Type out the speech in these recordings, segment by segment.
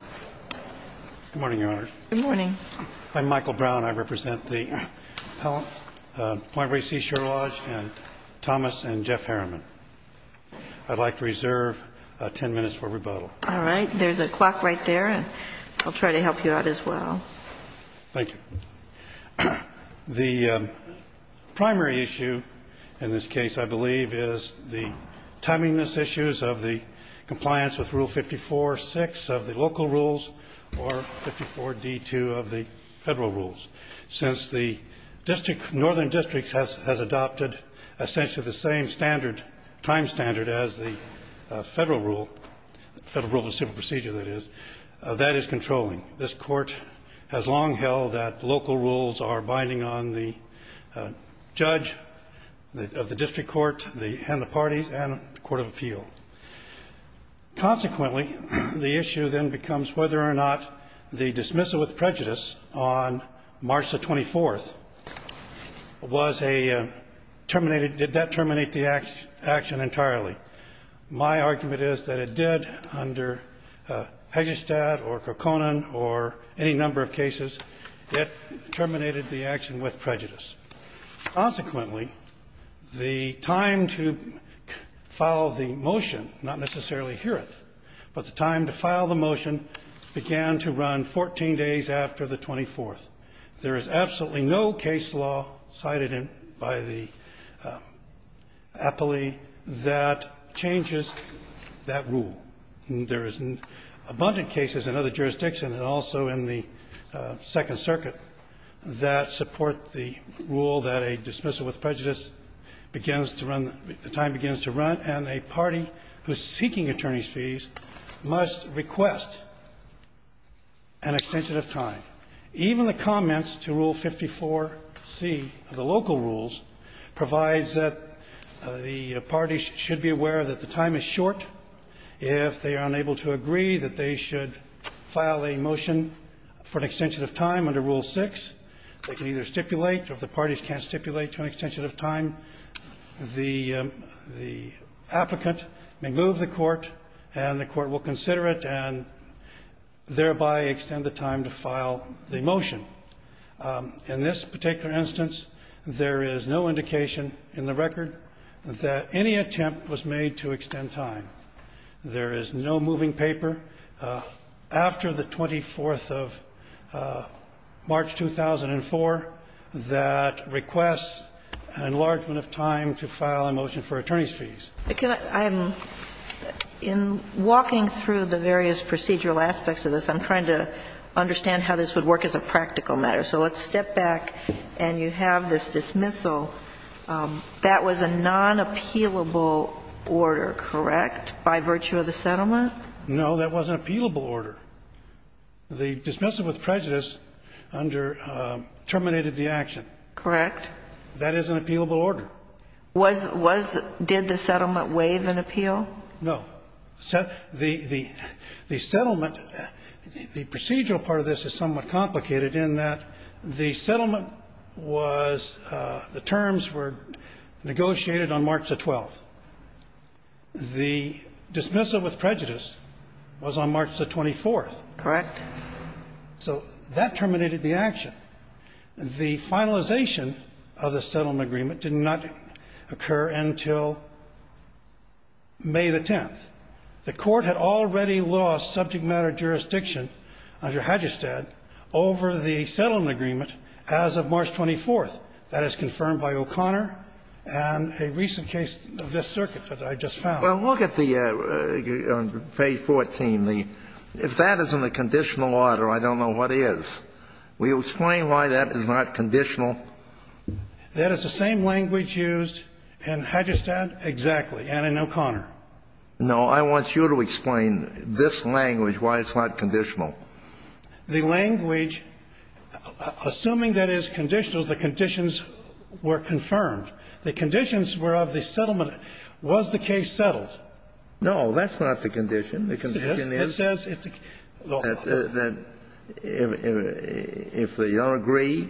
Good morning, Your Honors. Good morning. I'm Michael Brown. I represent the Point Reyes Sea Shore Lodge and Thomas and Jeff Harriman. I'd like to reserve 10 minutes for rebuttal. All right. There's a clock right there, and I'll try to help you out as well. Thank you. The primary issue in this case, I believe, is the timeliness issues of the compliance with Rule 54-6 of the local rules or 54-D-2 of the federal rules. Since the Northern Districts has adopted essentially the same standard, time standard, as the federal rule, federal rule of civil procedure, that is, that is controlling. This Court has long held that local rules are binding on the judge of the district court and the parties and the court of appeal. Consequently, the issue then becomes whether or not the dismissal with prejudice on March the 24th was a terminated — did that terminate the action entirely. My argument is that it did under Pejistad or Kokkonen or any number of cases. It terminated the action with prejudice. Consequently, the time to file the motion, not necessarily hear it, but the time to file the motion began to run 14 days after the 24th. There is absolutely no case law cited by the appellee that changes that rule. There is abundant cases in other jurisdictions and also in the Second Circuit that support the rule that a dismissal with prejudice begins to run — the time begins to run, and a party who is seeking attorney's fees must request an extension of time. Even the comments to Rule 54-C of the local rules provides that the parties should be aware that the time is short. If they are unable to agree that they should file a motion for an extension of time under Rule 6, they can either stipulate, or if the parties can't stipulate to an extension of time, the — the applicant may move the court and the court will consider it and thereby extend the time to file the motion. In this particular instance, there is no indication in the record that any attempt was made to extend time. There is no moving paper after the 24th of March, 2004, that requests an enlargement of time to file a motion for attorney's fees. In walking through the various procedural aspects of this, I'm trying to understand how this would work as a practical matter. So let's step back, and you have this dismissal. That was a non-appealable order, correct, by virtue of the settlement? No, that was an appealable order. The dismissal with prejudice under — terminated the action. Correct. That is an appealable order. Was — was — did the settlement waive an appeal? No. The — the settlement — the procedural part of this is somewhat complicated in that the settlement was — the terms were negotiated on March the 12th. The dismissal with prejudice was on March the 24th. Correct. So that terminated the action. The finalization of the settlement agreement did not occur until May the 10th. The Court had already lost subject matter jurisdiction under Hadjistad over the settlement agreement as of March 24th. That is confirmed by O'Connor and a recent case of this circuit that I just found. Well, look at the — on page 14. The — if that isn't a conditional order, I don't know what is. Will you explain why that is not conditional? That is the same language used in Hadjistad, exactly, and in O'Connor. No. I want you to explain this language, why it's not conditional. The language, assuming that it is conditional, the conditions were confirmed. The conditions were of the settlement. Was the case settled? No. That's not the condition. The condition is that if they don't agree,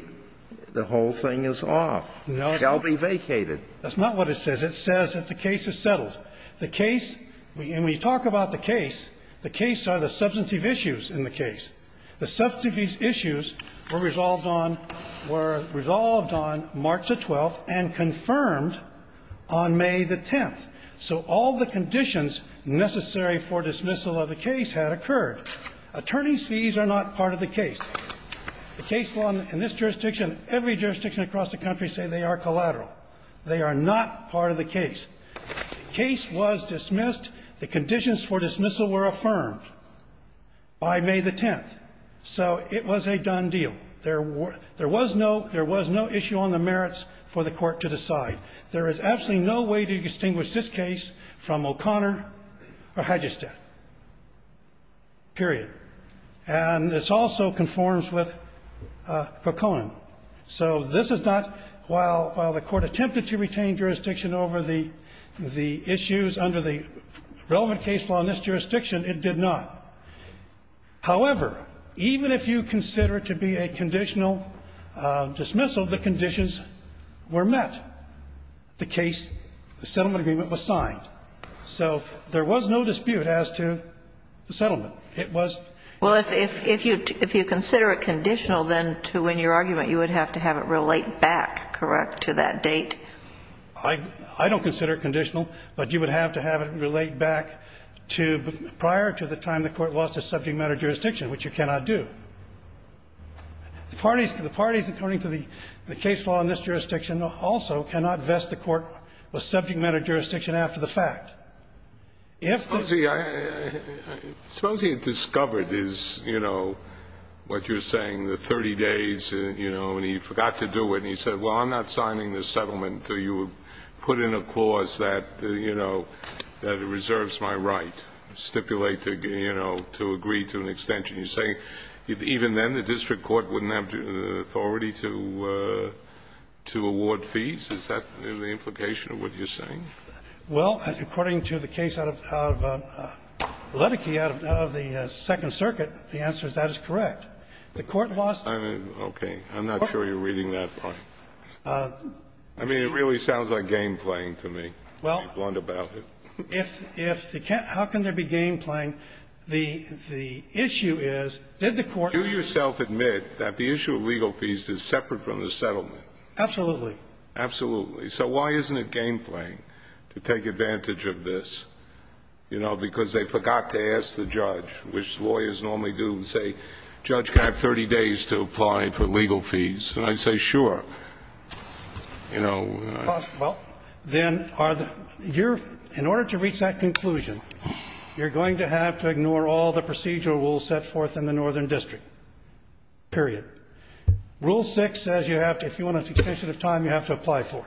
the whole thing is off. No. Shall be vacated. That's not what it says. It says that the case is settled. The case, when we talk about the case, the case are the substantive issues in the case. The substantive issues were resolved on — were resolved on March the 12th and confirmed on May the 10th. So all the conditions necessary for dismissal of the case had occurred. Attorney's fees are not part of the case. The case law in this jurisdiction, every jurisdiction across the country say they are collateral. They are not part of the case. The case was dismissed. The conditions for dismissal were affirmed by May the 10th. So it was a done deal. There was no — there was no issue on the merits for the Court to decide. There is absolutely no way to distinguish this case from O'Connor or Hedgestad, period. And this also conforms with Poconin. So this is not — while the Court attempted to retain jurisdiction over the issues under the relevant case law in this jurisdiction, it did not. However, even if you consider it to be a conditional dismissal, the conditions were met. The case, the settlement agreement was signed. So there was no dispute as to the settlement. It was — Well, if you consider it conditional, then to win your argument, you would have to have it relate back, correct, to that date? I don't consider it conditional. But you would have to have it relate back to prior to the time the Court lost a subject matter jurisdiction, which you cannot do. The parties, according to the case law in this jurisdiction, also cannot vest the Court with subject matter jurisdiction after the fact. If the — Suppose he had discovered his, you know, what you're saying, the 30 days, you know, and he forgot to do it. And he said, well, I'm not signing the settlement. So you would put in a clause that, you know, that it reserves my right, stipulate to, you know, to agree to an extension. You're saying even then the district court wouldn't have authority to award fees? Is that the implication of what you're saying? Well, according to the case out of Ledecky, out of the Second Circuit, the answer is that is correct. The Court lost the — Okay. I'm not sure you're reading that right. I mean, it really sounds like game playing to me, to be blunt about it. Well, if the — how can there be game playing? The issue is, did the Court — Do yourself admit that the issue of legal fees is separate from the settlement? Absolutely. Absolutely. So why isn't it game playing? To take advantage of this, you know, because they forgot to ask the judge, which lawyers normally do, and say, Judge, can I have 30 days to apply for legal fees? And I say, sure. You know. Well, then are the — you're — in order to reach that conclusion, you're going to have to ignore all the procedural rules set forth in the Northern District, period. Rule 6 says you have to — if you want an extension of time, you have to apply for it.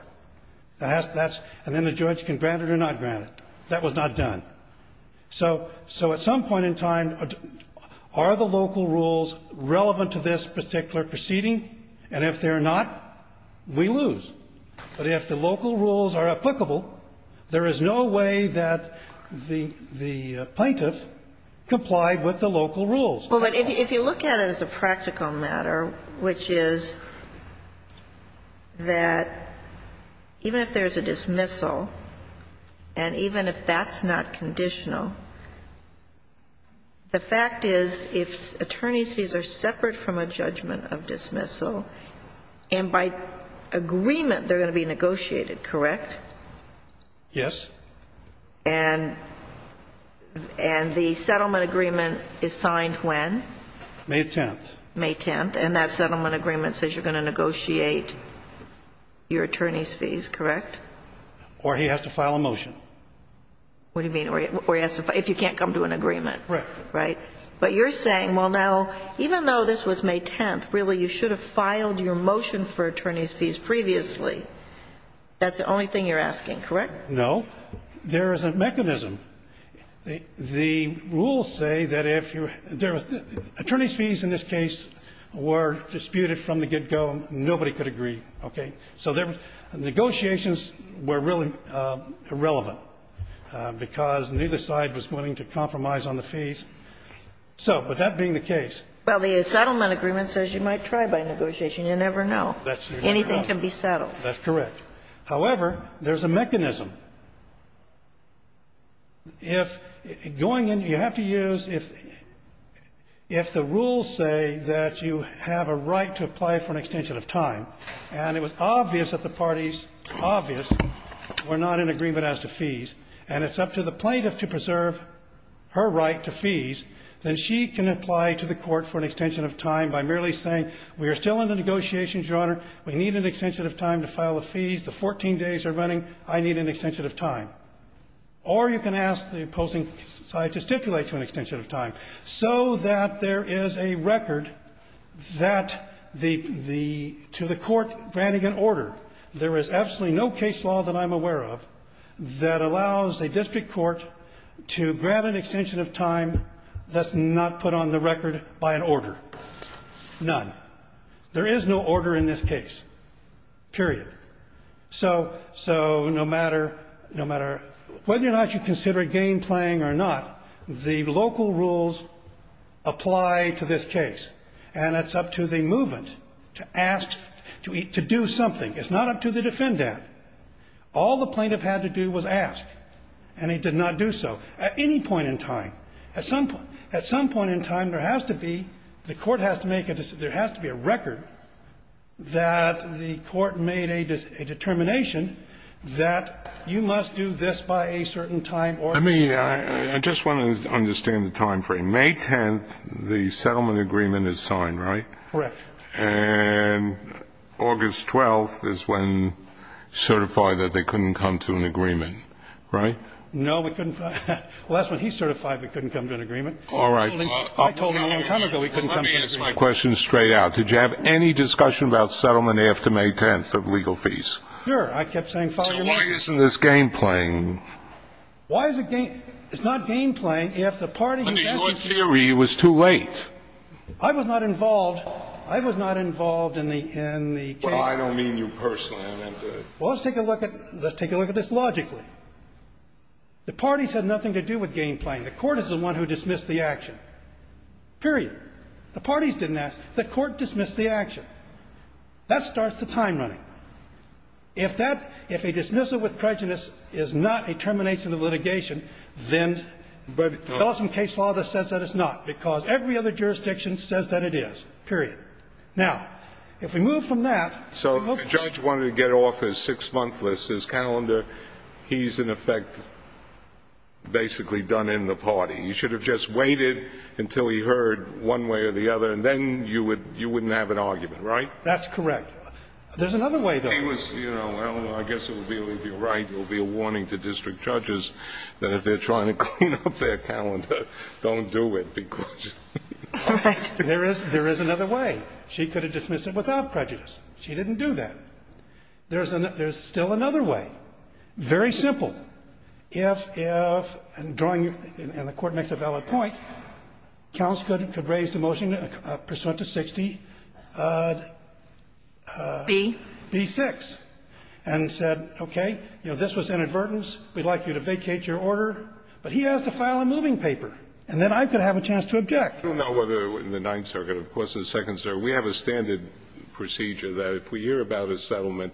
That's — and then the judge can grant it or not grant it. That was not done. So at some point in time, are the local rules relevant to this particular proceeding? And if they're not, we lose. But if the local rules are applicable, there is no way that the plaintiff complied with the local rules. Well, but if you look at it as a practical matter, which is that even if there's a dismissal, and even if that's not conditional, the fact is if attorneys' fees are separate from a judgment of dismissal, and by agreement they're going to be negotiated, correct? Yes. And the settlement agreement is signed when? May 10th. May 10th. And that settlement agreement says you're going to negotiate your attorney's fees, correct? Or he has to file a motion. What do you mean? Or he has to — if you can't come to an agreement. Right. Right. But you're saying, well, now, even though this was May 10th, really, you should have filed your motion for attorney's fees previously. That's the only thing you're asking, correct? No. There is a mechanism. The rules say that if you're — attorney's fees in this case were disputed from the get-go. Nobody could agree. Okay? So negotiations were really irrelevant, because neither side was willing to compromise on the fees. So, but that being the case. Well, the settlement agreement says you might try by negotiation. You never know. Anything can be settled. That's correct. However, there's a mechanism. If — going in, you have to use — if the rules say that you have a right to apply for an extension of time, and it was obvious that the parties — obvious — were not in agreement as to fees, and it's up to the plaintiff to preserve her right to fees, then she can apply to the Court for an extension of time by merely saying we are still in the negotiations, Your Honor. We need an extension of time to file the fees. The 14 days are running. I need an extension of time. Or you can ask the opposing side to stipulate to an extension of time so that there is a record that the — to the Court granting an order. There is absolutely no case law that I'm aware of that allows a district court to grant an extension of time that's not put on the record by an order. None. There is no order in this case, period. So — so no matter — no matter — whether or not you consider it game playing or not, the local rules apply to this case, and it's up to the movement to ask — to do something. It's not up to the defendant. All the plaintiff had to do was ask, and he did not do so. At any point in time, at some point — at some point in time, there has to be — the Court has to make a — there has to be a record that the Court made a determination that you must do this by a certain time or — I mean, I just want to understand the timeframe. May 10th, the settlement agreement is signed, right? Correct. And August 12th is when certified that they couldn't come to an agreement, right? No, we couldn't. Well, that's when he certified we couldn't come to an agreement. All right. I told him a long time ago we couldn't come to an agreement. Let me ask my question straight out. Did you have any discussion about settlement after May 10th of legal fees? Sure. I kept saying, Father, you're right. So why isn't this game playing? Why is it game — it's not game playing if the party who sent it to you — Under your theory, it was too late. I was not involved. I was not involved in the case. Well, I don't mean you personally. I meant the — Well, let's take a look at — let's take a look at this logically. The parties had nothing to do with game playing. The court is the one who dismissed the action. Period. The parties didn't ask. The court dismissed the action. That starts the time running. If that — if a dismissal with prejudice is not a termination of litigation, then the Ellison case law that says that is not, because every other jurisdiction says that it is. Period. Now, if we move from that — But if you look at the calendar, the six-month list, his calendar, he's, in effect, basically done in the party. He should have just waited until he heard one way or the other, and then you would — you wouldn't have an argument, right? That's correct. There's another way, though. He was — you know, I don't know. I guess it would be — if you're right, there would be a warning to district judges that if they're trying to clean up their calendar, don't do it because — Correct. There is — there is another way. She could have dismissed it without prejudice. She didn't do that. There's an — there's still another way. Very simple. If — if — and drawing your — and the Court makes a valid point, counts could raise the motion pursuant to 60B-6. And said, okay, you know, this was inadvertence. We'd like you to vacate your order. But he has to file a moving paper, and then I could have a chance to object. I don't know whether in the Ninth Circuit, of course, or the Second Circuit, we have a standard procedure that if we hear about a settlement,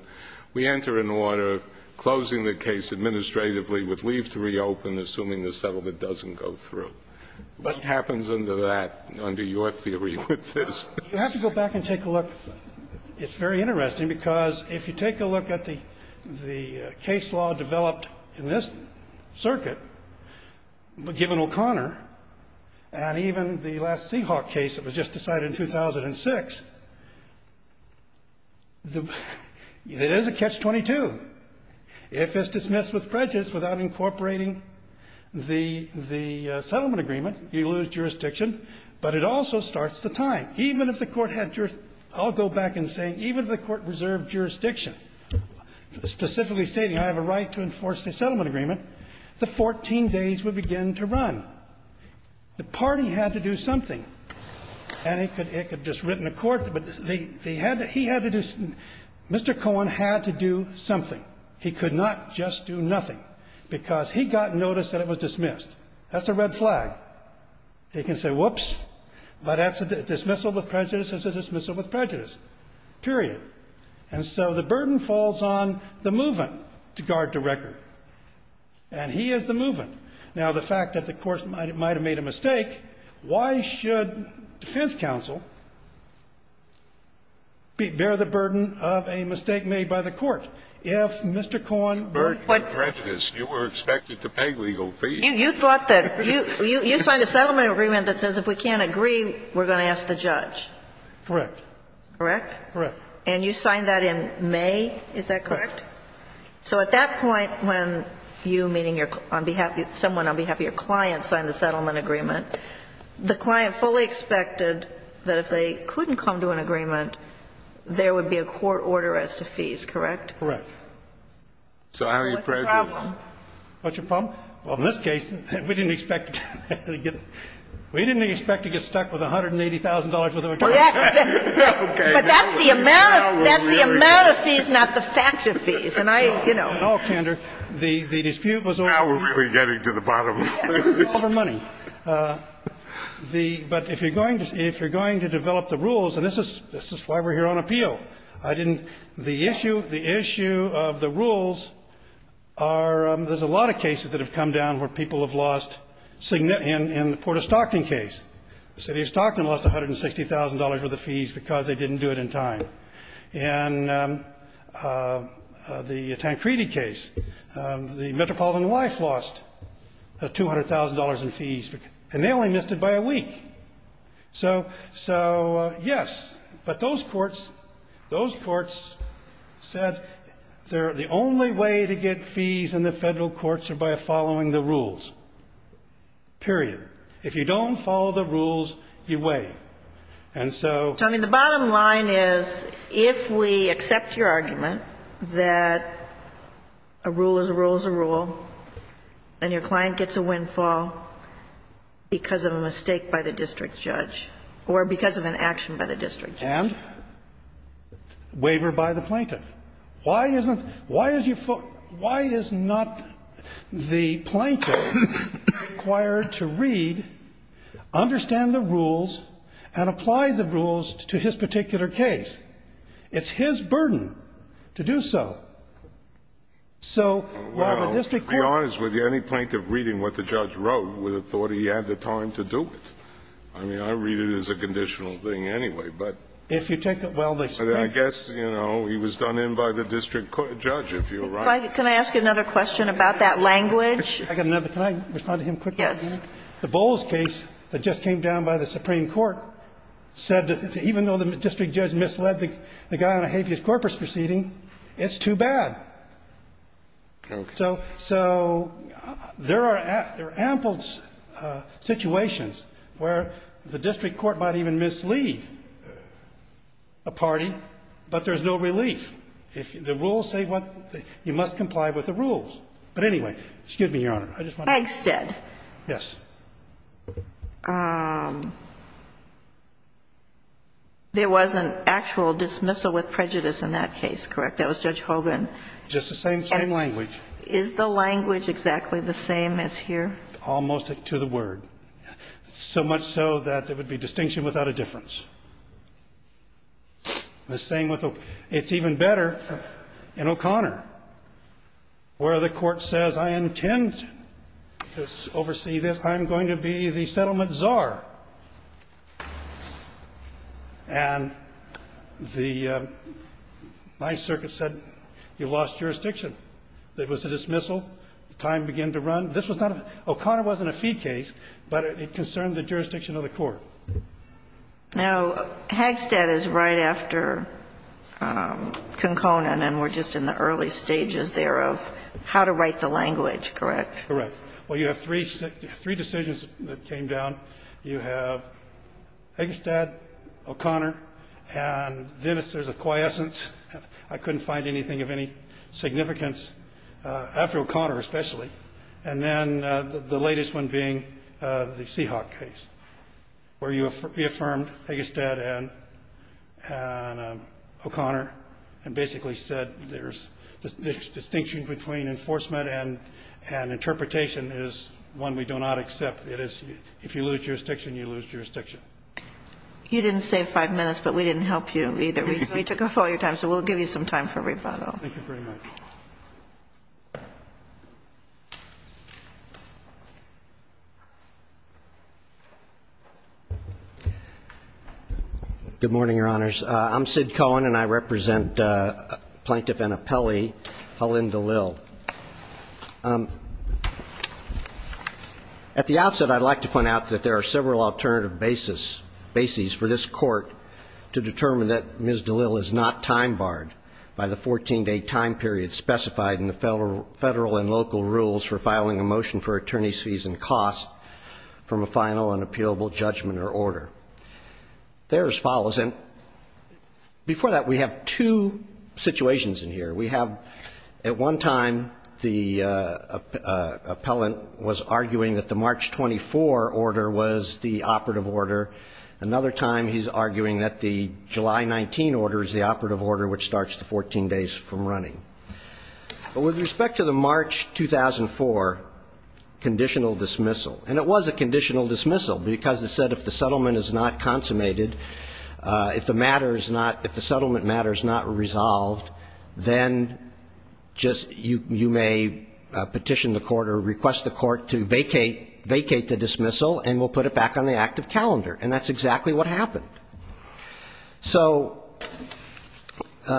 we enter an order closing the case administratively with leave to reopen, assuming the settlement doesn't go through. But it happens under that, under your theory with this. You have to go back and take a look. It's very interesting, because if you take a look at the — the case law developed in this circuit, given O'Connor, and even the last Seahawk case that was just decided in 2006, the — it is a catch-22. If it's dismissed with prejudice without incorporating the — the settlement agreement, you lose jurisdiction. But it also starts the time. Even if the Court had — I'll go back and say even if the Court reserved jurisdiction, specifically stating I have a right to enforce the settlement agreement, the 14 days would begin to run. The party had to do something. And it could — it could have just written a court, but they — they had to — he had to do — Mr. Cohen had to do something. He could not just do nothing, because he got notice that it was dismissed. That's a red flag. He can say, whoops, but that's a dismissal with prejudice. It's a dismissal with prejudice, period. And so the burden falls on the movement to guard the record. And he is the movement. Now, the fact that the Court might have made a mistake, why should defense counsel bear the burden of a mistake made by the Court? If Mr. Cohen were to put prejudice, you were expected to pay legal fees. You thought that — you signed a settlement agreement that says if we can't agree, we're going to ask the judge. Correct. Correct? Correct. And you signed that in May. Is that correct? Correct. So at that point, when you, meaning your — on behalf — someone on behalf of your client signed the settlement agreement, the client fully expected that if they couldn't come to an agreement, there would be a court order as to fees, correct? Correct. So how are you prepared to do that? What's the problem? What's your problem? Well, in this case, we didn't expect to get — we didn't expect to get stuck with $180,000 worth of attorney fees. Okay. But that's the amount of — that's the amount of fees, not the fact of fees. And I, you know. No, Kander. The dispute was over money. Now we're really getting to the bottom of it. Over money. The — but if you're going to — if you're going to develop the rules, and this is why we're here on appeal. I didn't — the issue — the issue of the rules are — there's a lot of cases that have come down where people have lost — in the Port of Stockton case. The City of Stockton lost $160,000 worth of fees because they didn't do it in time. In the Tancredi case, the metropolitan wife lost $200,000 in fees, and they only missed it by a week. So — so, yes. But those courts — those courts said the only way to get fees in the Federal courts are by following the rules, period. If you don't follow the rules, you waive. And so — So, I mean, the bottom line is, if we accept your argument that a rule is a rule is a rule, and your client gets a windfall because of a mistake by the district judge, or because of an action by the district judge. And? Waiver by the plaintiff. Why isn't — why is your — why is not the plaintiff required to read, understand the rules, and apply the rules to his particular case? It's his burden to do so. So, why would district courts — Well, to be honest with you, any plaintiff reading what the judge wrote would have thought he had the time to do it. I mean, I read it as a conditional thing anyway, but — If you take the — well, the — I guess, you know, he was done in by the district judge, if you're right. Can I ask you another question about that language? I got another. Can I respond to him quickly? Yes. The Bowles case that just came down by the Supreme Court said that even though the district judge misled the guy on a habeas corpus proceeding, it's too bad. Okay. So there are ample situations where the district court might even mislead a party but there's no relief. If the rules say what — you must comply with the rules. But anyway, excuse me, Your Honor, I just want to — Eggstead. Yes. There was an actual dismissal with prejudice in that case, correct? That was Judge Hogan. Just the same — same language. Is the language exactly the same as here? Almost to the word. So much so that there would be distinction without a difference. The same with — it's even better in O'Connor, where the court says I intend to oversee this, I'm going to be the settlement czar. And the — my circuit said you lost jurisdiction. There was a dismissal. The time began to run. This was not a — O'Connor wasn't a fee case, but it concerned the jurisdiction of the court. Now, Eggstead is right after Conconin, and we're just in the early stages there of how to write the language, correct? Correct. Well, you have three decisions that came down. You have Eggstead, O'Connor, and then there's a quiescence. I couldn't find anything of any significance after O'Connor especially. And then the latest one being the Seahawk case. Where you reaffirmed Eggstead and O'Connor and basically said there's — the distinction between enforcement and interpretation is one we do not accept. It is if you lose jurisdiction, you lose jurisdiction. You didn't save five minutes, but we didn't help you either. We took up all your time, so we'll give you some time for rebuttal. Thank you very much. Good morning, Your Honors. I'm Sid Cohen, and I represent Plaintiff Anna Pelley, Helene DeLille. At the outset, I'd like to point out that there are several alternative bases for this federal and local rules for filing a motion for attorney's fees and costs from a final and appealable judgment or order. They're as follows. And before that, we have two situations in here. We have at one time the appellant was arguing that the March 24 order was the operative order. Another time he's arguing that the July 19 order is the operative order, which starts the 14 days from running. But with respect to the March 2004 conditional dismissal, and it was a conditional dismissal because it said if the settlement is not consummated, if the matter is not — if the settlement matter is not resolved, then just — you may petition the court or request the court to vacate the dismissal and we'll put it back on the active calendar. And that's exactly what happened. So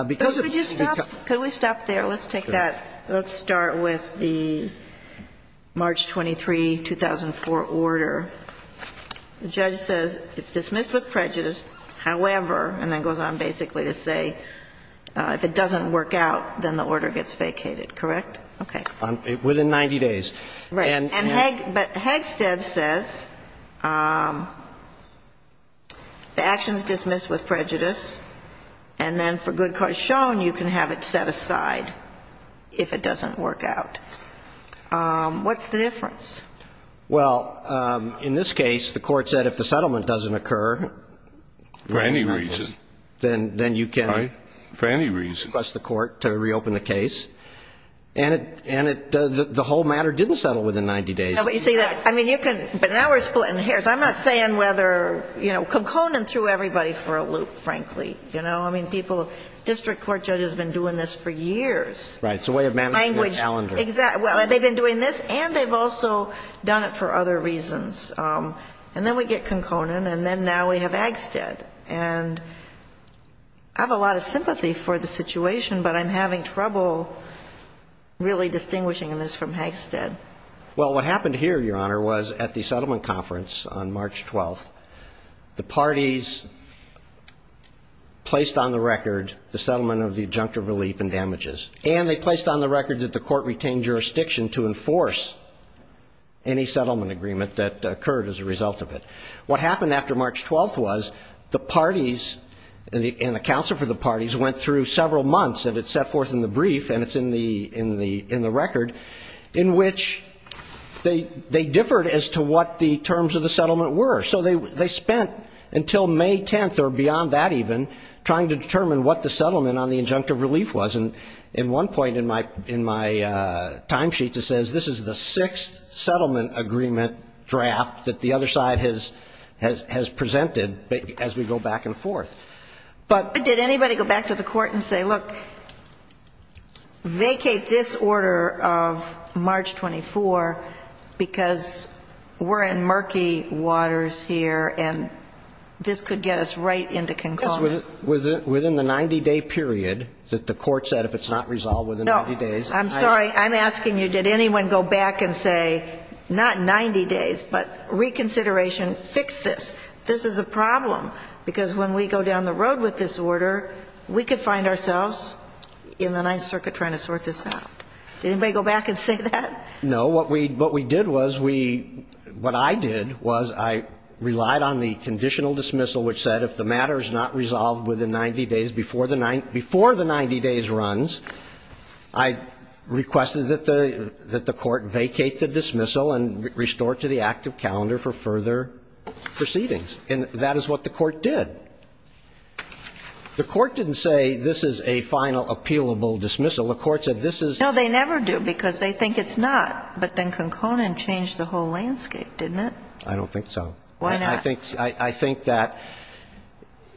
because of the — Could you stop? Could we stop there? Let's take that. Let's start with the March 23, 2004 order. The judge says it's dismissed with prejudice, however, and then goes on basically to say if it doesn't work out, then the order gets vacated, correct? Okay. Within 90 days. Right. And — but Hegstead says the action is dismissed with prejudice, and then for good cause shown, you can have it set aside if it doesn't work out. What's the difference? Well, in this case, the court said if the settlement doesn't occur — For any reason. Then you can — Right. For any reason. And it — the whole matter didn't settle within 90 days. No, but you see that — I mean, you can — but now we're splitting hairs. I'm not saying whether — you know, Konkonen threw everybody for a loop, frankly. You know? I mean, people — district court judges have been doing this for years. Right. It's a way of managing their calendar. Exactly. Well, they've been doing this, and they've also done it for other reasons. And then we get Konkonen, and then now we have Hegstead. And I have a lot of sympathy for the situation, but I'm having trouble really distinguishing this from Hegstead. Well, what happened here, Your Honor, was at the settlement conference on March 12th, the parties placed on the record the settlement of the adjunctive relief and damages, and they placed on the record that the court retained jurisdiction to enforce any settlement agreement that occurred as a result of it. What happened after March 12th was the parties and the counsel for the parties went through several months, and it's set forth in the brief, and it's in the record, in which they differed as to what the terms of the settlement were. So they spent until May 10th, or beyond that even, trying to determine what the settlement on the adjunctive relief was. And at one point in my timesheet, it says this is the sixth settlement agreement draft that the other side has presented as we go back and forth. But did anybody go back to the court and say, look, vacate this order of March 24th because we're in murky waters here, and this could get us right into Konkonen? It was within the 90-day period that the court said if it's not resolved within 90 days. No. I'm sorry. I'm asking you, did anyone go back and say, not 90 days, but reconsideration, fix this? This is a problem, because when we go down the road with this order, we could find ourselves in the Ninth Circuit trying to sort this out. Did anybody go back and say that? No. What we did was we – what I did was I relied on the conditional dismissal, which said if the matter is not resolved within 90 days before the 90 days runs, I requested that the court vacate the dismissal and restore it to the active calendar for further proceedings. And that is what the court did. The court didn't say this is a final appealable dismissal. The court said this is – No, they never do, because they think it's not. But then Konkonen changed the whole landscape, didn't it? I don't think so. Why not? I think that,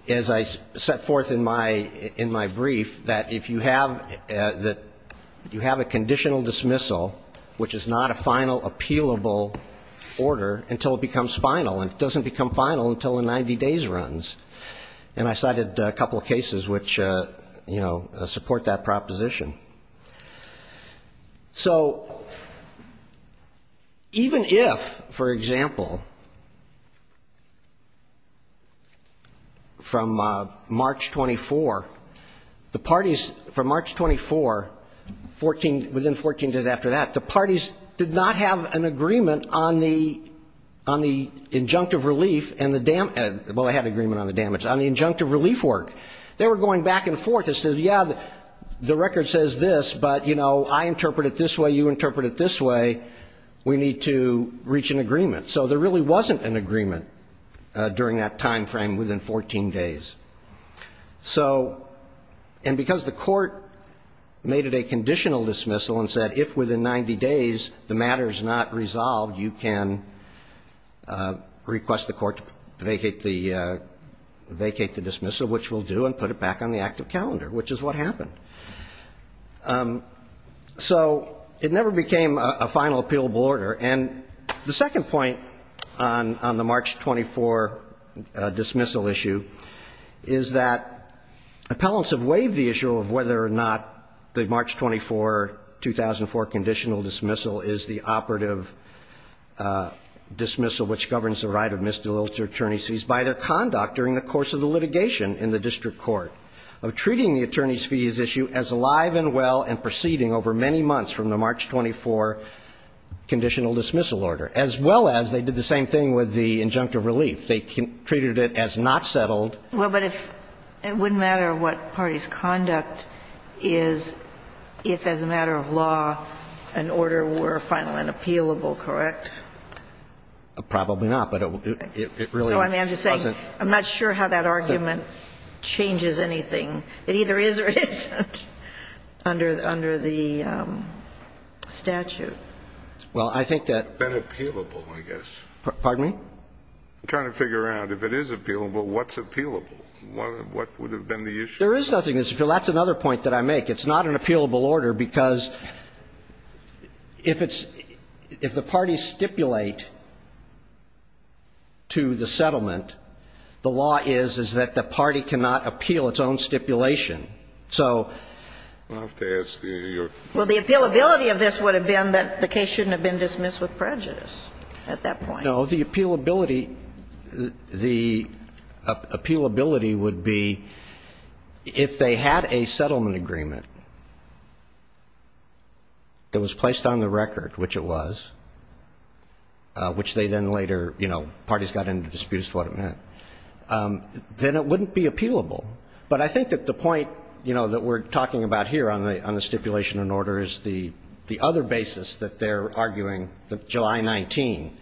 as I set forth in my brief, that if you have a conditional dismissal, which is not a final appealable order until it becomes final, and it doesn't become final until the 90 days runs. And I cited a couple of cases which, you know, support that proposition. So even if, for example, from March 24, the parties – from March 24, 14 – within 14 days after that, the parties did not have an agreement on the – on the injunctive relief and the – well, they had an agreement on the damage – on the injunctive relief work. They were going back and forth. They said, yeah, the record says this, but, you know, I interpret it this way, you interpret it this way. We need to reach an agreement. So there really wasn't an agreement during that timeframe within 14 days. So – and because the court made it a conditional dismissal and said if within 90 days the matter is not resolved, you can request the court to vacate the – vacate the calendar, which is what happened. So it never became a final appealable order. And the second point on the March 24 dismissal issue is that appellants have waived the issue of whether or not the March 24, 2004 conditional dismissal is the operative dismissal which governs the right of misdemeanor attorneys by their conduct during the course of the litigation in the district court of treating the attorneys' fees issue as alive and well and proceeding over many months from the March 24 conditional dismissal order, as well as they did the same thing with the injunctive relief. They treated it as not settled. Well, but if – it wouldn't matter what party's conduct is if as a matter of law an order were final and appealable, correct? Probably not. But it really wasn't. So, I mean, I'm just saying I'm not sure how that argument changes anything. It either is or it isn't under the statute. Well, I think that the appealable, I guess. Pardon me? I'm trying to figure out if it is appealable, what's appealable? What would have been the issue? There is nothing that's appealable. That's another point that I make. It's not an appealable order because if it's – if the parties stipulate to the settlement, the law is, is that the party cannot appeal its own stipulation. So the appealability of this would have been that the case shouldn't have been dismissed Well, the appealability, the appealability would be if they had a settlement agreement that was placed on the record, which it was, which they then later, you know, parties got into disputes as to what it meant, then it wouldn't be appealable. But I think that the point, you know, that we're talking about here on the stipulation and order is the other basis that they're arguing, July 19.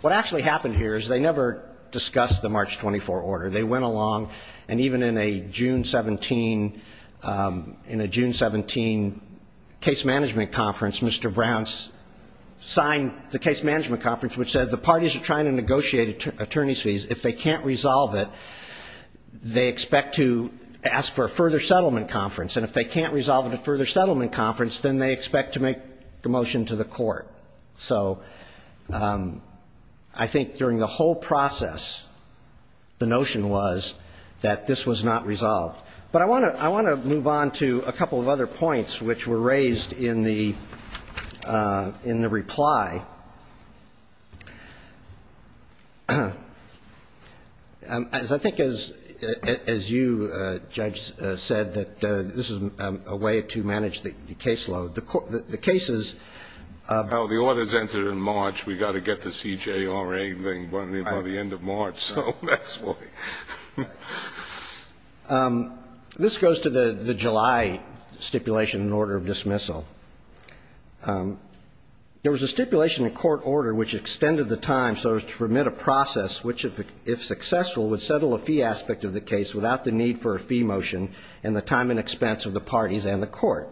What actually happened here is they never discussed the March 24 order. They went along, and even in a June 17, in a June 17 case management conference, Mr. Brown signed the case management conference, which said the parties are trying to negotiate attorney's fees. If they can't resolve it, they expect to ask for a further settlement conference. And if they can't resolve it at a further settlement conference, then they expect to make a motion to the court. So I think during the whole process, the notion was that this was not resolved. But I want to, I want to move on to a couple of other points which were raised in the, in the reply. As I think as, as you, Judge, said, that this is a way to manage the caseload. The cases of the orders entered in March, we got to get the CJRA thing by the end of March, so that's why. This goes to the July stipulation and order of dismissal. There was a stipulation in court order which extended the time so as to permit a process which, if successful, would settle a fee aspect of the case without the need for a fee motion, and the time and expense of the parties and the court.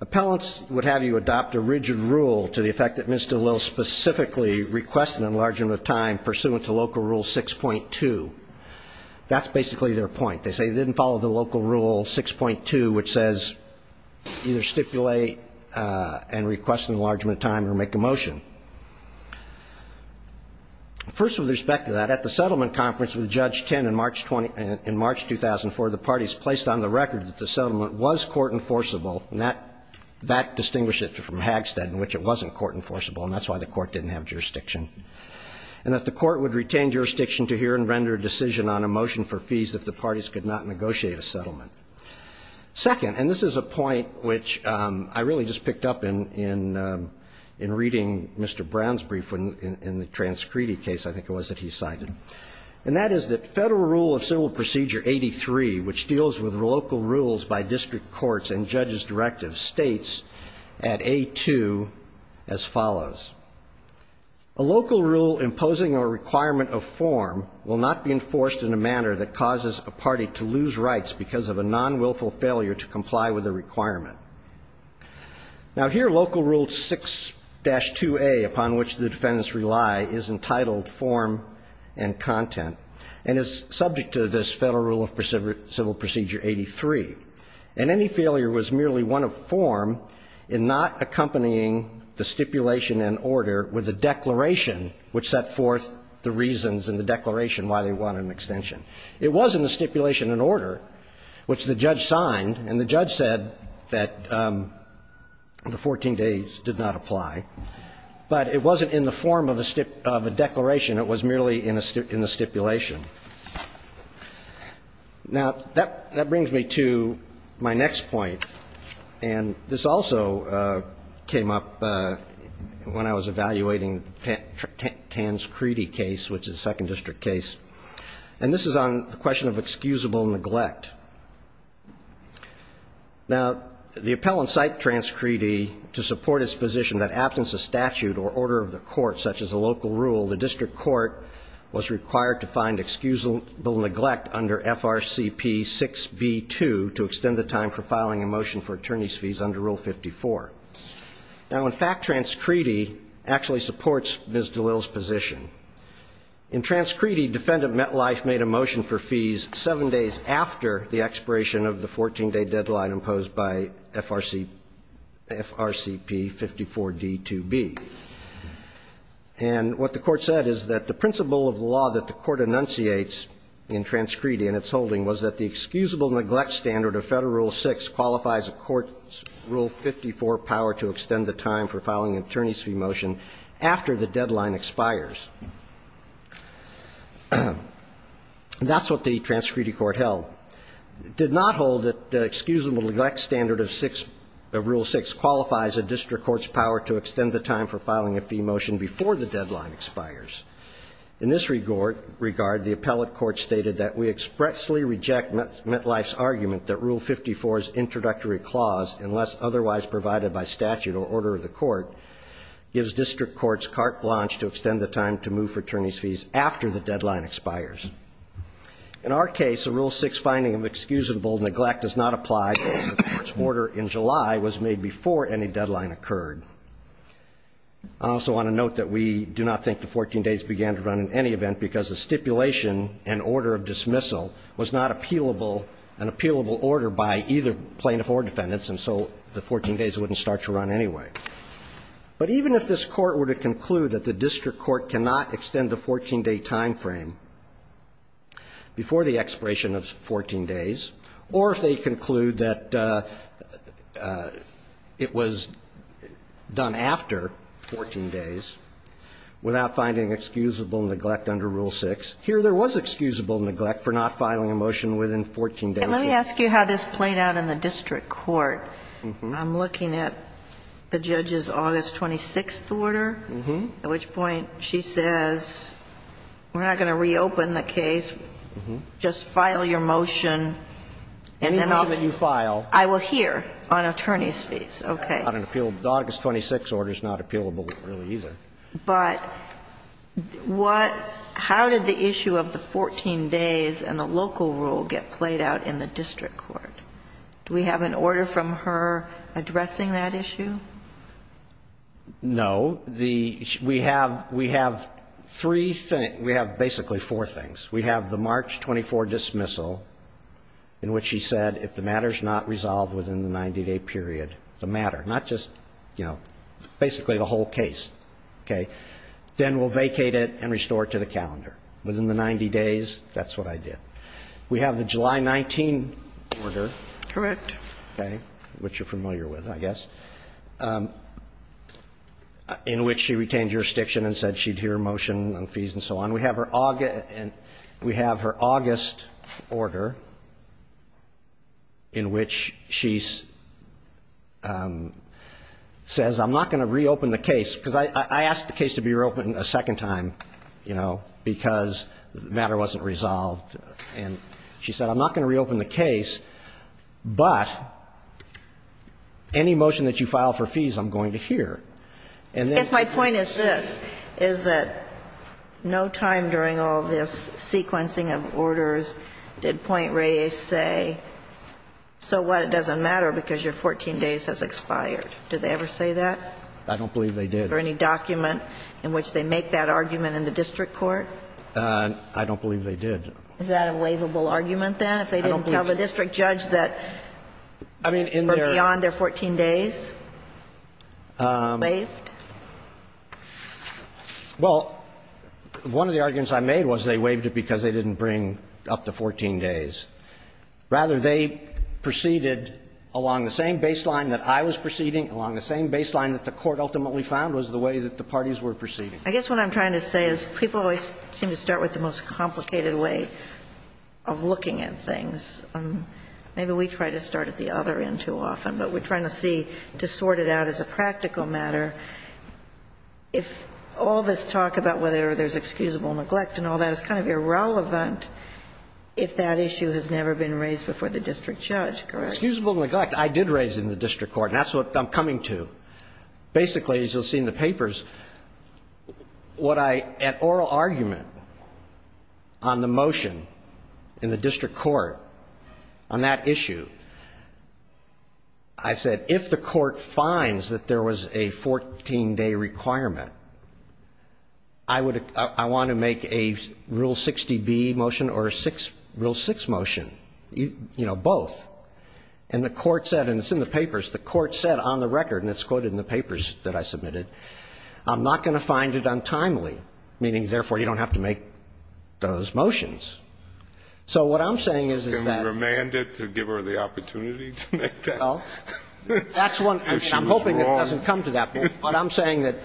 Appellants would have you adopt a rigid rule to the effect that Mr. Lill specifically requested an enlargement of time pursuant to local rule 6.2. That's basically their point. They say they didn't follow the local rule 6.2, which says either stipulate and request enlargement of time or make a motion. First, with respect to that, at the settlement conference with Judge Tinn in March 20, in March 2004, the parties placed on the record that the settlement was court enforceable, and that, that distinguished it from Hagstead in which it wasn't court enforceable, and that's why the court didn't have jurisdiction. And that the court would retain jurisdiction to hear and render a decision on a motion for fees if the parties could not negotiate a settlement. Second, and this is a point which I really just picked up in, in reading Mr. Brown's brief in the transcredit case, I think it was, that he cited. And that is that Federal Rule of Civil Procedure 83, which deals with local rules by district courts and judges' directives, states at A2 as follows. A local rule imposing a requirement of form will not be enforced in a manner that causes a party to lose rights because of a nonwilful failure to comply with a requirement. Now, here Local Rule 6-2A, upon which the defendants rely, is entitled form and content, and is subject to this Federal Rule of Civil Procedure 83. And any failure was merely one of form in not accompanying the stipulation and order with a declaration which set forth the reasons in the declaration why they wanted an extension. It was in the stipulation and order which the judge signed, and the judge said that the 14 days did not apply. But it wasn't in the form of a declaration. It was merely in a stipulation. Now, that brings me to my next point, and this also came up when I was evaluating the Tanskredi case, which is a Second District case. And this is on the question of excusable neglect. Now, the appellant cited Tanskredi to support his position that, absent a statute or order of the court, such as a local rule, the district court was required to find excusable neglect under FRCP 6b-2 to extend the time for filing a motion for attorney's fees under Rule 54. Now, in fact, Tanskredi actually supports Ms. DeLille's position. In Tanskredi, Defendant Metlife made a motion for fees 7 days after the expiration of the 14-day deadline imposed by FRCP 54d-2b. And what the court said is that the principle of law that the court enunciates in Tanskredi and its holding was that the excusable neglect standard of Federal Rule 6 qualifies a court's Rule 54 power to extend the time for filing an attorney's fee motion after the deadline expires. That's what the Tanskredi court held. It did not hold that the excusable neglect standard of Rule 6 qualifies a district court's power to extend the time for filing a fee motion before the deadline expires. In this regard, the appellate court stated that we expressly reject Metlife's argument that Rule 54's introductory clause, unless otherwise provided by statute or order of the court, gives district courts carte blanche to extend the time to move for attorney's fees after the deadline expires. In our case, a Rule 6 finding of excusable neglect does not apply because the court's decision was made before any deadline occurred. I also want to note that we do not think the 14 days began to run in any event because the stipulation and order of dismissal was not appealable, an appealable order by either plaintiff or defendants, and so the 14 days wouldn't start to run anyway. But even if this Court were to conclude that the district court cannot extend the 14-day timeframe before the expiration of 14 days, or if they conclude that it was done after 14 days without finding excusable neglect under Rule 6, here there was excusable neglect for not filing a motion within 14 days. And let me ask you how this played out in the district court. I'm looking at the judge's August 26th order, at which point she says, we're not going to reopen the case. Just file your motion. And then I will hear on attorney's fees. Okay. August 26th order is not appealable, really, either. But how did the issue of the 14 days and the local rule get played out in the district court? Do we have an order from her addressing that issue? No. We have three things. We have basically four things. We have the March 24 dismissal, in which she said if the matter is not resolved within the 90-day period, the matter, not just, you know, basically the whole case, okay, then we'll vacate it and restore it to the calendar. Within the 90 days, that's what I did. We have the July 19 order. Correct. Okay. Which you're familiar with, I guess. In which she retained jurisdiction and said she'd hear a motion on fees and so on. We have her August order, in which she says, I'm not going to reopen the case, because I asked the case to be reopened a second time, you know, because the matter wasn't resolved. And she said, I'm not going to reopen the case. But any motion that you file for fees, I'm going to hear. Yes, my point is this. Is that no time during all this sequencing of orders did Point Reyes say, so what? It doesn't matter because your 14 days has expired. Did they ever say that? I don't believe they did. Or any document in which they make that argument in the district court? I don't believe they did. Is that a waivable argument, then? I don't believe it. If they didn't tell the district judge that they were beyond their 14 days? Waived? Well, one of the arguments I made was they waived it because they didn't bring up to 14 days. Rather, they proceeded along the same baseline that I was proceeding, along the same baseline that the Court ultimately found was the way that the parties were proceeding. I guess what I'm trying to say is people always seem to start with the most complicated way of looking at things. Maybe we try to start at the other end too often, but we're trying to see, to sort it out as a practical matter, if all this talk about whether there's excusable neglect and all that is kind of irrelevant if that issue has never been raised before the district judge, correct? Excusable neglect I did raise in the district court, and that's what I'm coming Basically, as you'll see in the papers, what I at oral argument on the motion in the district court on that issue, I said if the court finds that there was a 14-day requirement, I want to make a Rule 60B motion or a Rule 6 motion, you know, both. And the court said, and it's in the papers, the court said on the record, and it's quoted in the papers that I submitted, I'm not going to find it untimely, meaning therefore you don't have to make those motions. So what I'm saying is that Can we remand it to give her the opportunity to make that? Well, that's one. I mean, I'm hoping it doesn't come to that point. But I'm saying that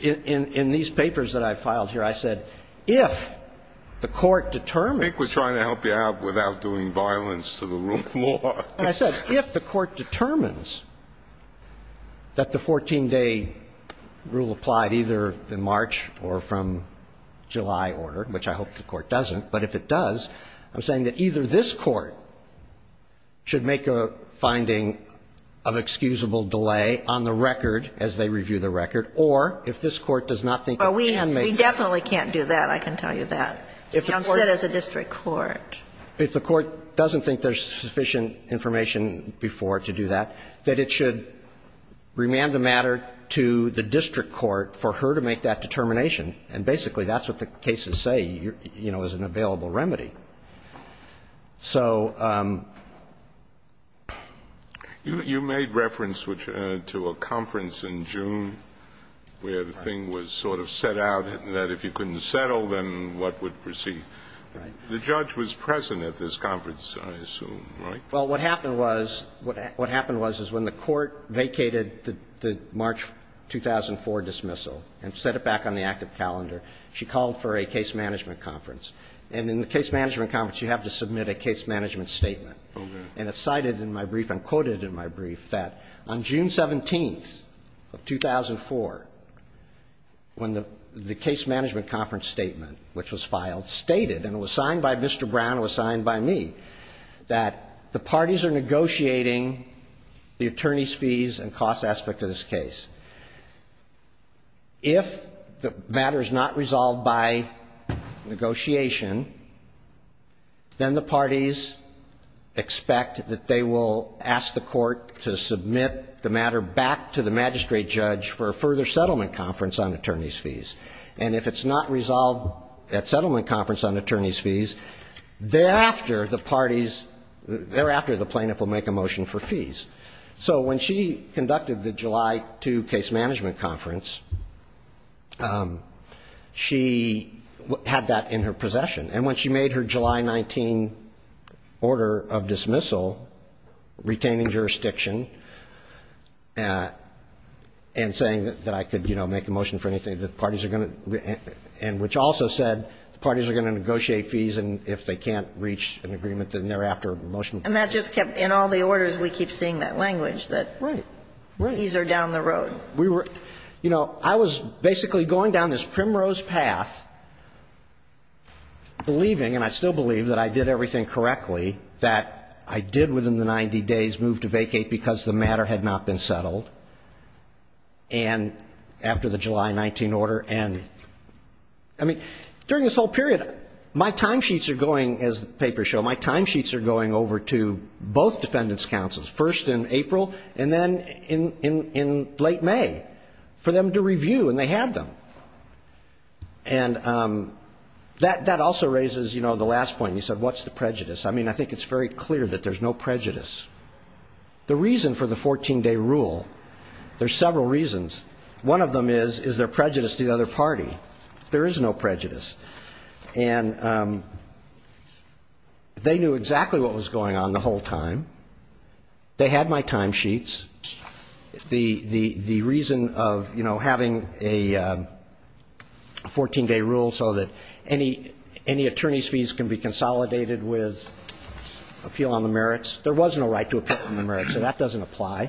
in these papers that I filed here, I said if the court determines I think we're trying to help you out without doing violence to the rule of law. And I said if the court determines that the 14-day rule applied either in March or from July order, which I hope the court doesn't, but if it does, I'm saying that either this court should make a finding of excusable delay on the record as they review the record, or if this court does not think it can make it. We definitely can't do that. I can tell you that. Young said it's a district court. If the court doesn't think there's sufficient information before to do that, that it should remand the matter to the district court for her to make that determination. And basically that's what the cases say, you know, is an available remedy. So you made reference to a conference in June where the thing was sort of set out that if you couldn't settle, then what would proceed. The judge was present at this conference, I assume, right? Well, what happened was, what happened was, is when the court vacated the March 2004 dismissal and set it back on the active calendar, she called for a case management conference. And in the case management conference, you have to submit a case management statement. And it's cited in my brief and quoted in my brief that on June 17th of 2004, when the case management conference statement, which was filed, stated, and it was signed by Mr. Brown, it was signed by me, that the parties are negotiating the attorney's fees and cost aspect of this case. If the matter is not resolved by negotiation, then the parties expect that they will ask the court to submit the matter back to the magistrate judge for a further settlement conference on attorney's fees. And if it's not resolved at settlement conference on attorney's fees, thereafter the parties, thereafter the plaintiff will make a motion for fees. So when she conducted the July 2 case management conference, she had that in her possession. And when she made her July 19 order of dismissal, retaining jurisdiction and saying that I could, you know, make a motion for anything, the parties are going to, and which also said the parties are going to negotiate fees and if they can't reach an agreement, then thereafter the motion. And that just kept, in all the orders, we keep seeing that language, that fees are down the road. Right. We were, you know, I was basically going down this primrose path, believing, and I still believe, that I did everything correctly, that I did within the 90 days move to vacate because the matter had not been settled, and after the July 19 order. And, I mean, during this whole period, my time sheets are going, as the papers show, my time sheets are going over to both defendants' counsels, first in April and then in late May, for them to review. And they had them. And that also raises, you know, the last point. You said, what's the prejudice? I mean, I think it's very clear that there's no prejudice. The reason for the 14-day rule, there's several reasons. One of them is, is there prejudice to the other party? There is no prejudice. And they knew exactly what was going on the whole time. They had my time sheets. The reason of, you know, having a 14-day rule so that any attorney's fees can be appealed on the merits, there was no right to appeal on the merits, so that doesn't apply.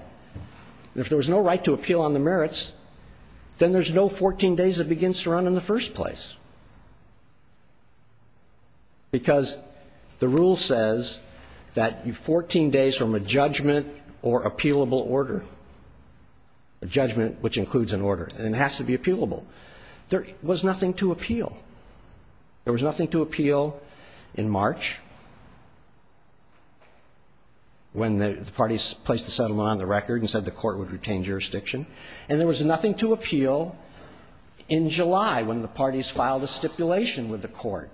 And if there was no right to appeal on the merits, then there's no 14 days that begins to run in the first place. Because the rule says that 14 days from a judgment or appealable order, a judgment which includes an order, and it has to be appealable, there was nothing to appeal. There was nothing to appeal in March, when the parties placed the settlement on the record and said the court would retain jurisdiction. And there was nothing to appeal in July, when the parties filed a stipulation with the court.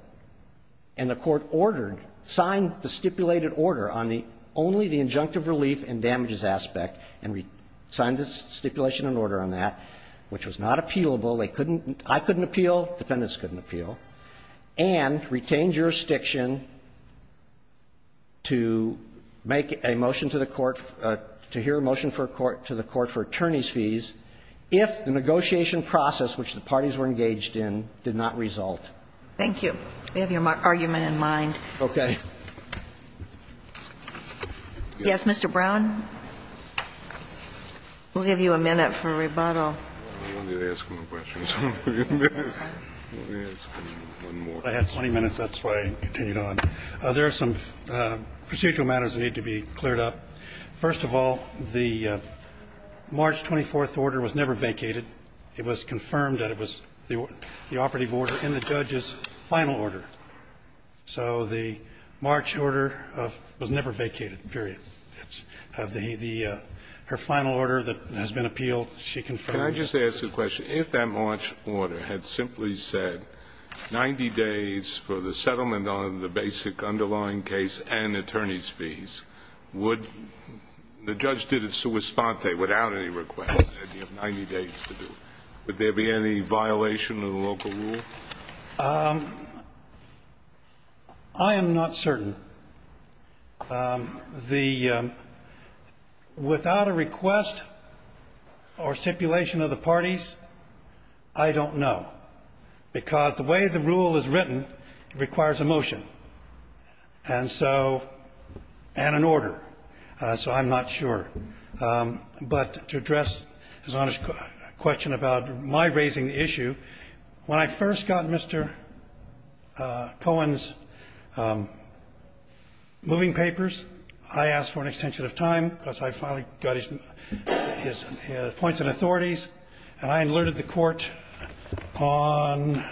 And the court ordered, signed the stipulated order on the only the injunctive relief and damages aspect, and signed the stipulation and order on that, which was not appealable. They couldn't, I couldn't appeal, defendants couldn't appeal, and retained jurisdiction to make a motion to the court, to hear a motion to the court for attorney's fees, if the negotiation process which the parties were engaged in did not result. Thank you. We have your argument in mind. Okay. Yes, Mr. Brown? We'll give you a minute for rebuttal. I have 20 minutes, that's why I continued on. There are some procedural matters that need to be cleared up. First of all, the March 24th order was never vacated. It was confirmed that it was the operative order in the judge's final order. So the March order was never vacated, period. Her final order that has been appealed, she confirmed. Can I just ask a question? If that March order had simply said 90 days for the settlement on the basic underlying case and attorney's fees, would the judge did it sua sponte, without any request, and you have 90 days to do it, would there be any violation of the local rule? I am not certain. Without a request or stipulation of the parties, I don't know, because the way the rule is written, it requires a motion and so an order. So I'm not sure. But to address His Honor's question about my raising the issue, when I first got Mr. Moore's moving papers, I asked for an extension of time, because I finally got his points and authorities, and I alerted the Court on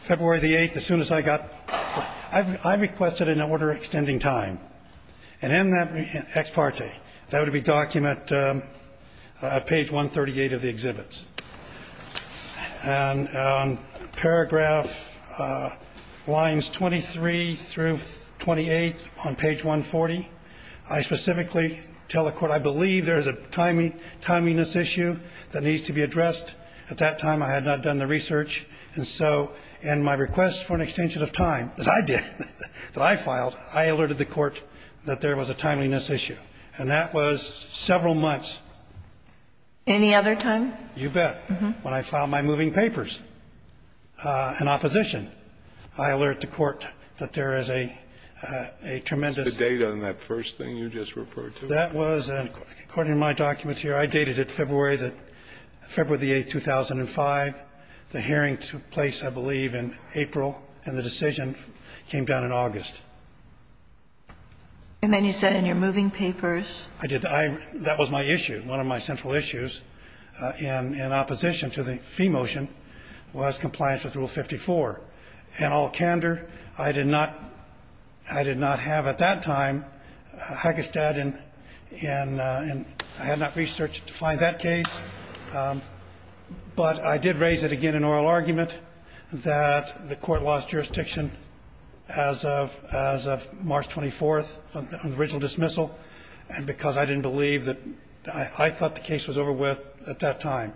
February the 8th, as soon as I got I requested an order extending time. And in that ex parte, that would be document page 138 of the exhibits. And paragraph lines 23 through 28 on page 140, I specifically tell the Court I believe there is a timeliness issue that needs to be addressed. At that time, I had not done the research, and so in my request for an extension of time, that I did, that I filed, I alerted the Court that there was a timeliness issue, and that was several months. Any other time? You bet. When I filed my moving papers in opposition, I alerted the Court that there is a tremendous The date on that first thing you just referred to? That was, according to my documents here, I dated it February the 8th, 2005. The hearing took place, I believe, in April, and the decision came down in August. And then you said in your moving papers? I did. That was my issue. One of my central issues in opposition to the fee motion was compliance with Rule 54. And all candor, I did not have at that time Hagestad, and I had not researched to find that case. But I did raise it again in oral argument, that the Court lost jurisdiction as of March 24th on the original dismissal, and because I didn't believe that I thought the case was over with at that time.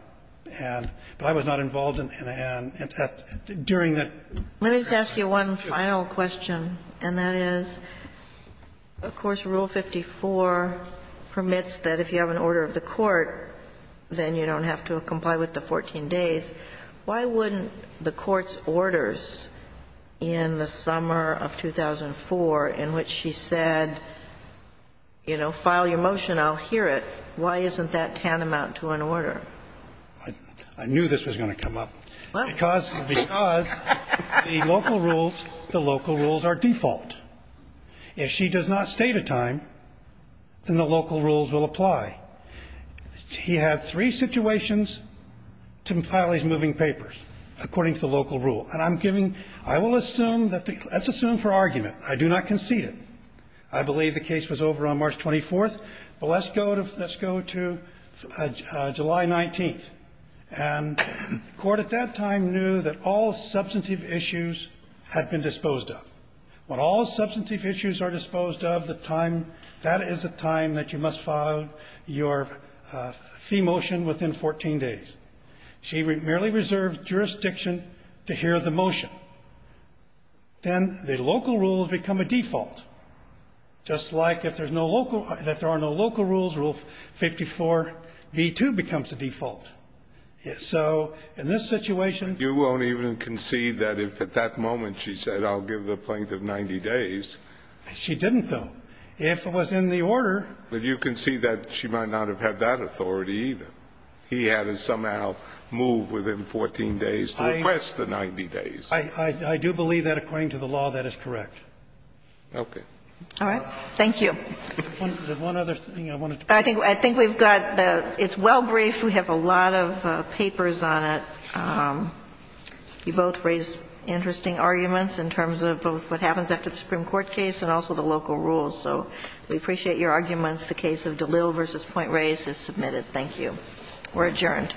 But I was not involved during that period. Let me just ask you one final question, and that is, of course, Rule 54 permits that if you have an order of the Court, then you don't have to comply with the 14 days. Why wouldn't the Court's orders in the summer of 2004, in which she said, you know, file your motion, I'll hear it, why isn't that tantamount to an order? I knew this was going to come up. Why? Because the local rules, the local rules are default. If she does not state a time, then the local rules will apply. He had three situations to file his moving papers, according to the local rule. And I'm giving you – I will assume that the – let's assume for argument. I do not concede it. I believe the case was over on March 24th, but let's go to – let's go to July 19th. And the Court at that time knew that all substantive issues had been disposed of. When all substantive issues are disposed of, the time – that is the time that you must file your fee motion within 14 days. She merely reserved jurisdiction to hear the motion. Then the local rules become a default, just like if there's no local – if there are no local rules, Rule 54b2 becomes the default. So in this situation – At that moment, she said, I'll give the plaintiff 90 days. She didn't, though. If it was in the order – But you can see that she might not have had that authority either. He had to somehow move within 14 days to request the 90 days. I do believe that, according to the law, that is correct. Okay. All right. Thank you. One other thing I wanted to point out. I think we've got the – it's well briefed. We have a lot of papers on it. You both raised interesting arguments in terms of both what happens after the Supreme Court case and also the local rules. So we appreciate your arguments. The case of DeLille v. Point Reyes is submitted. Thank you. We're adjourned.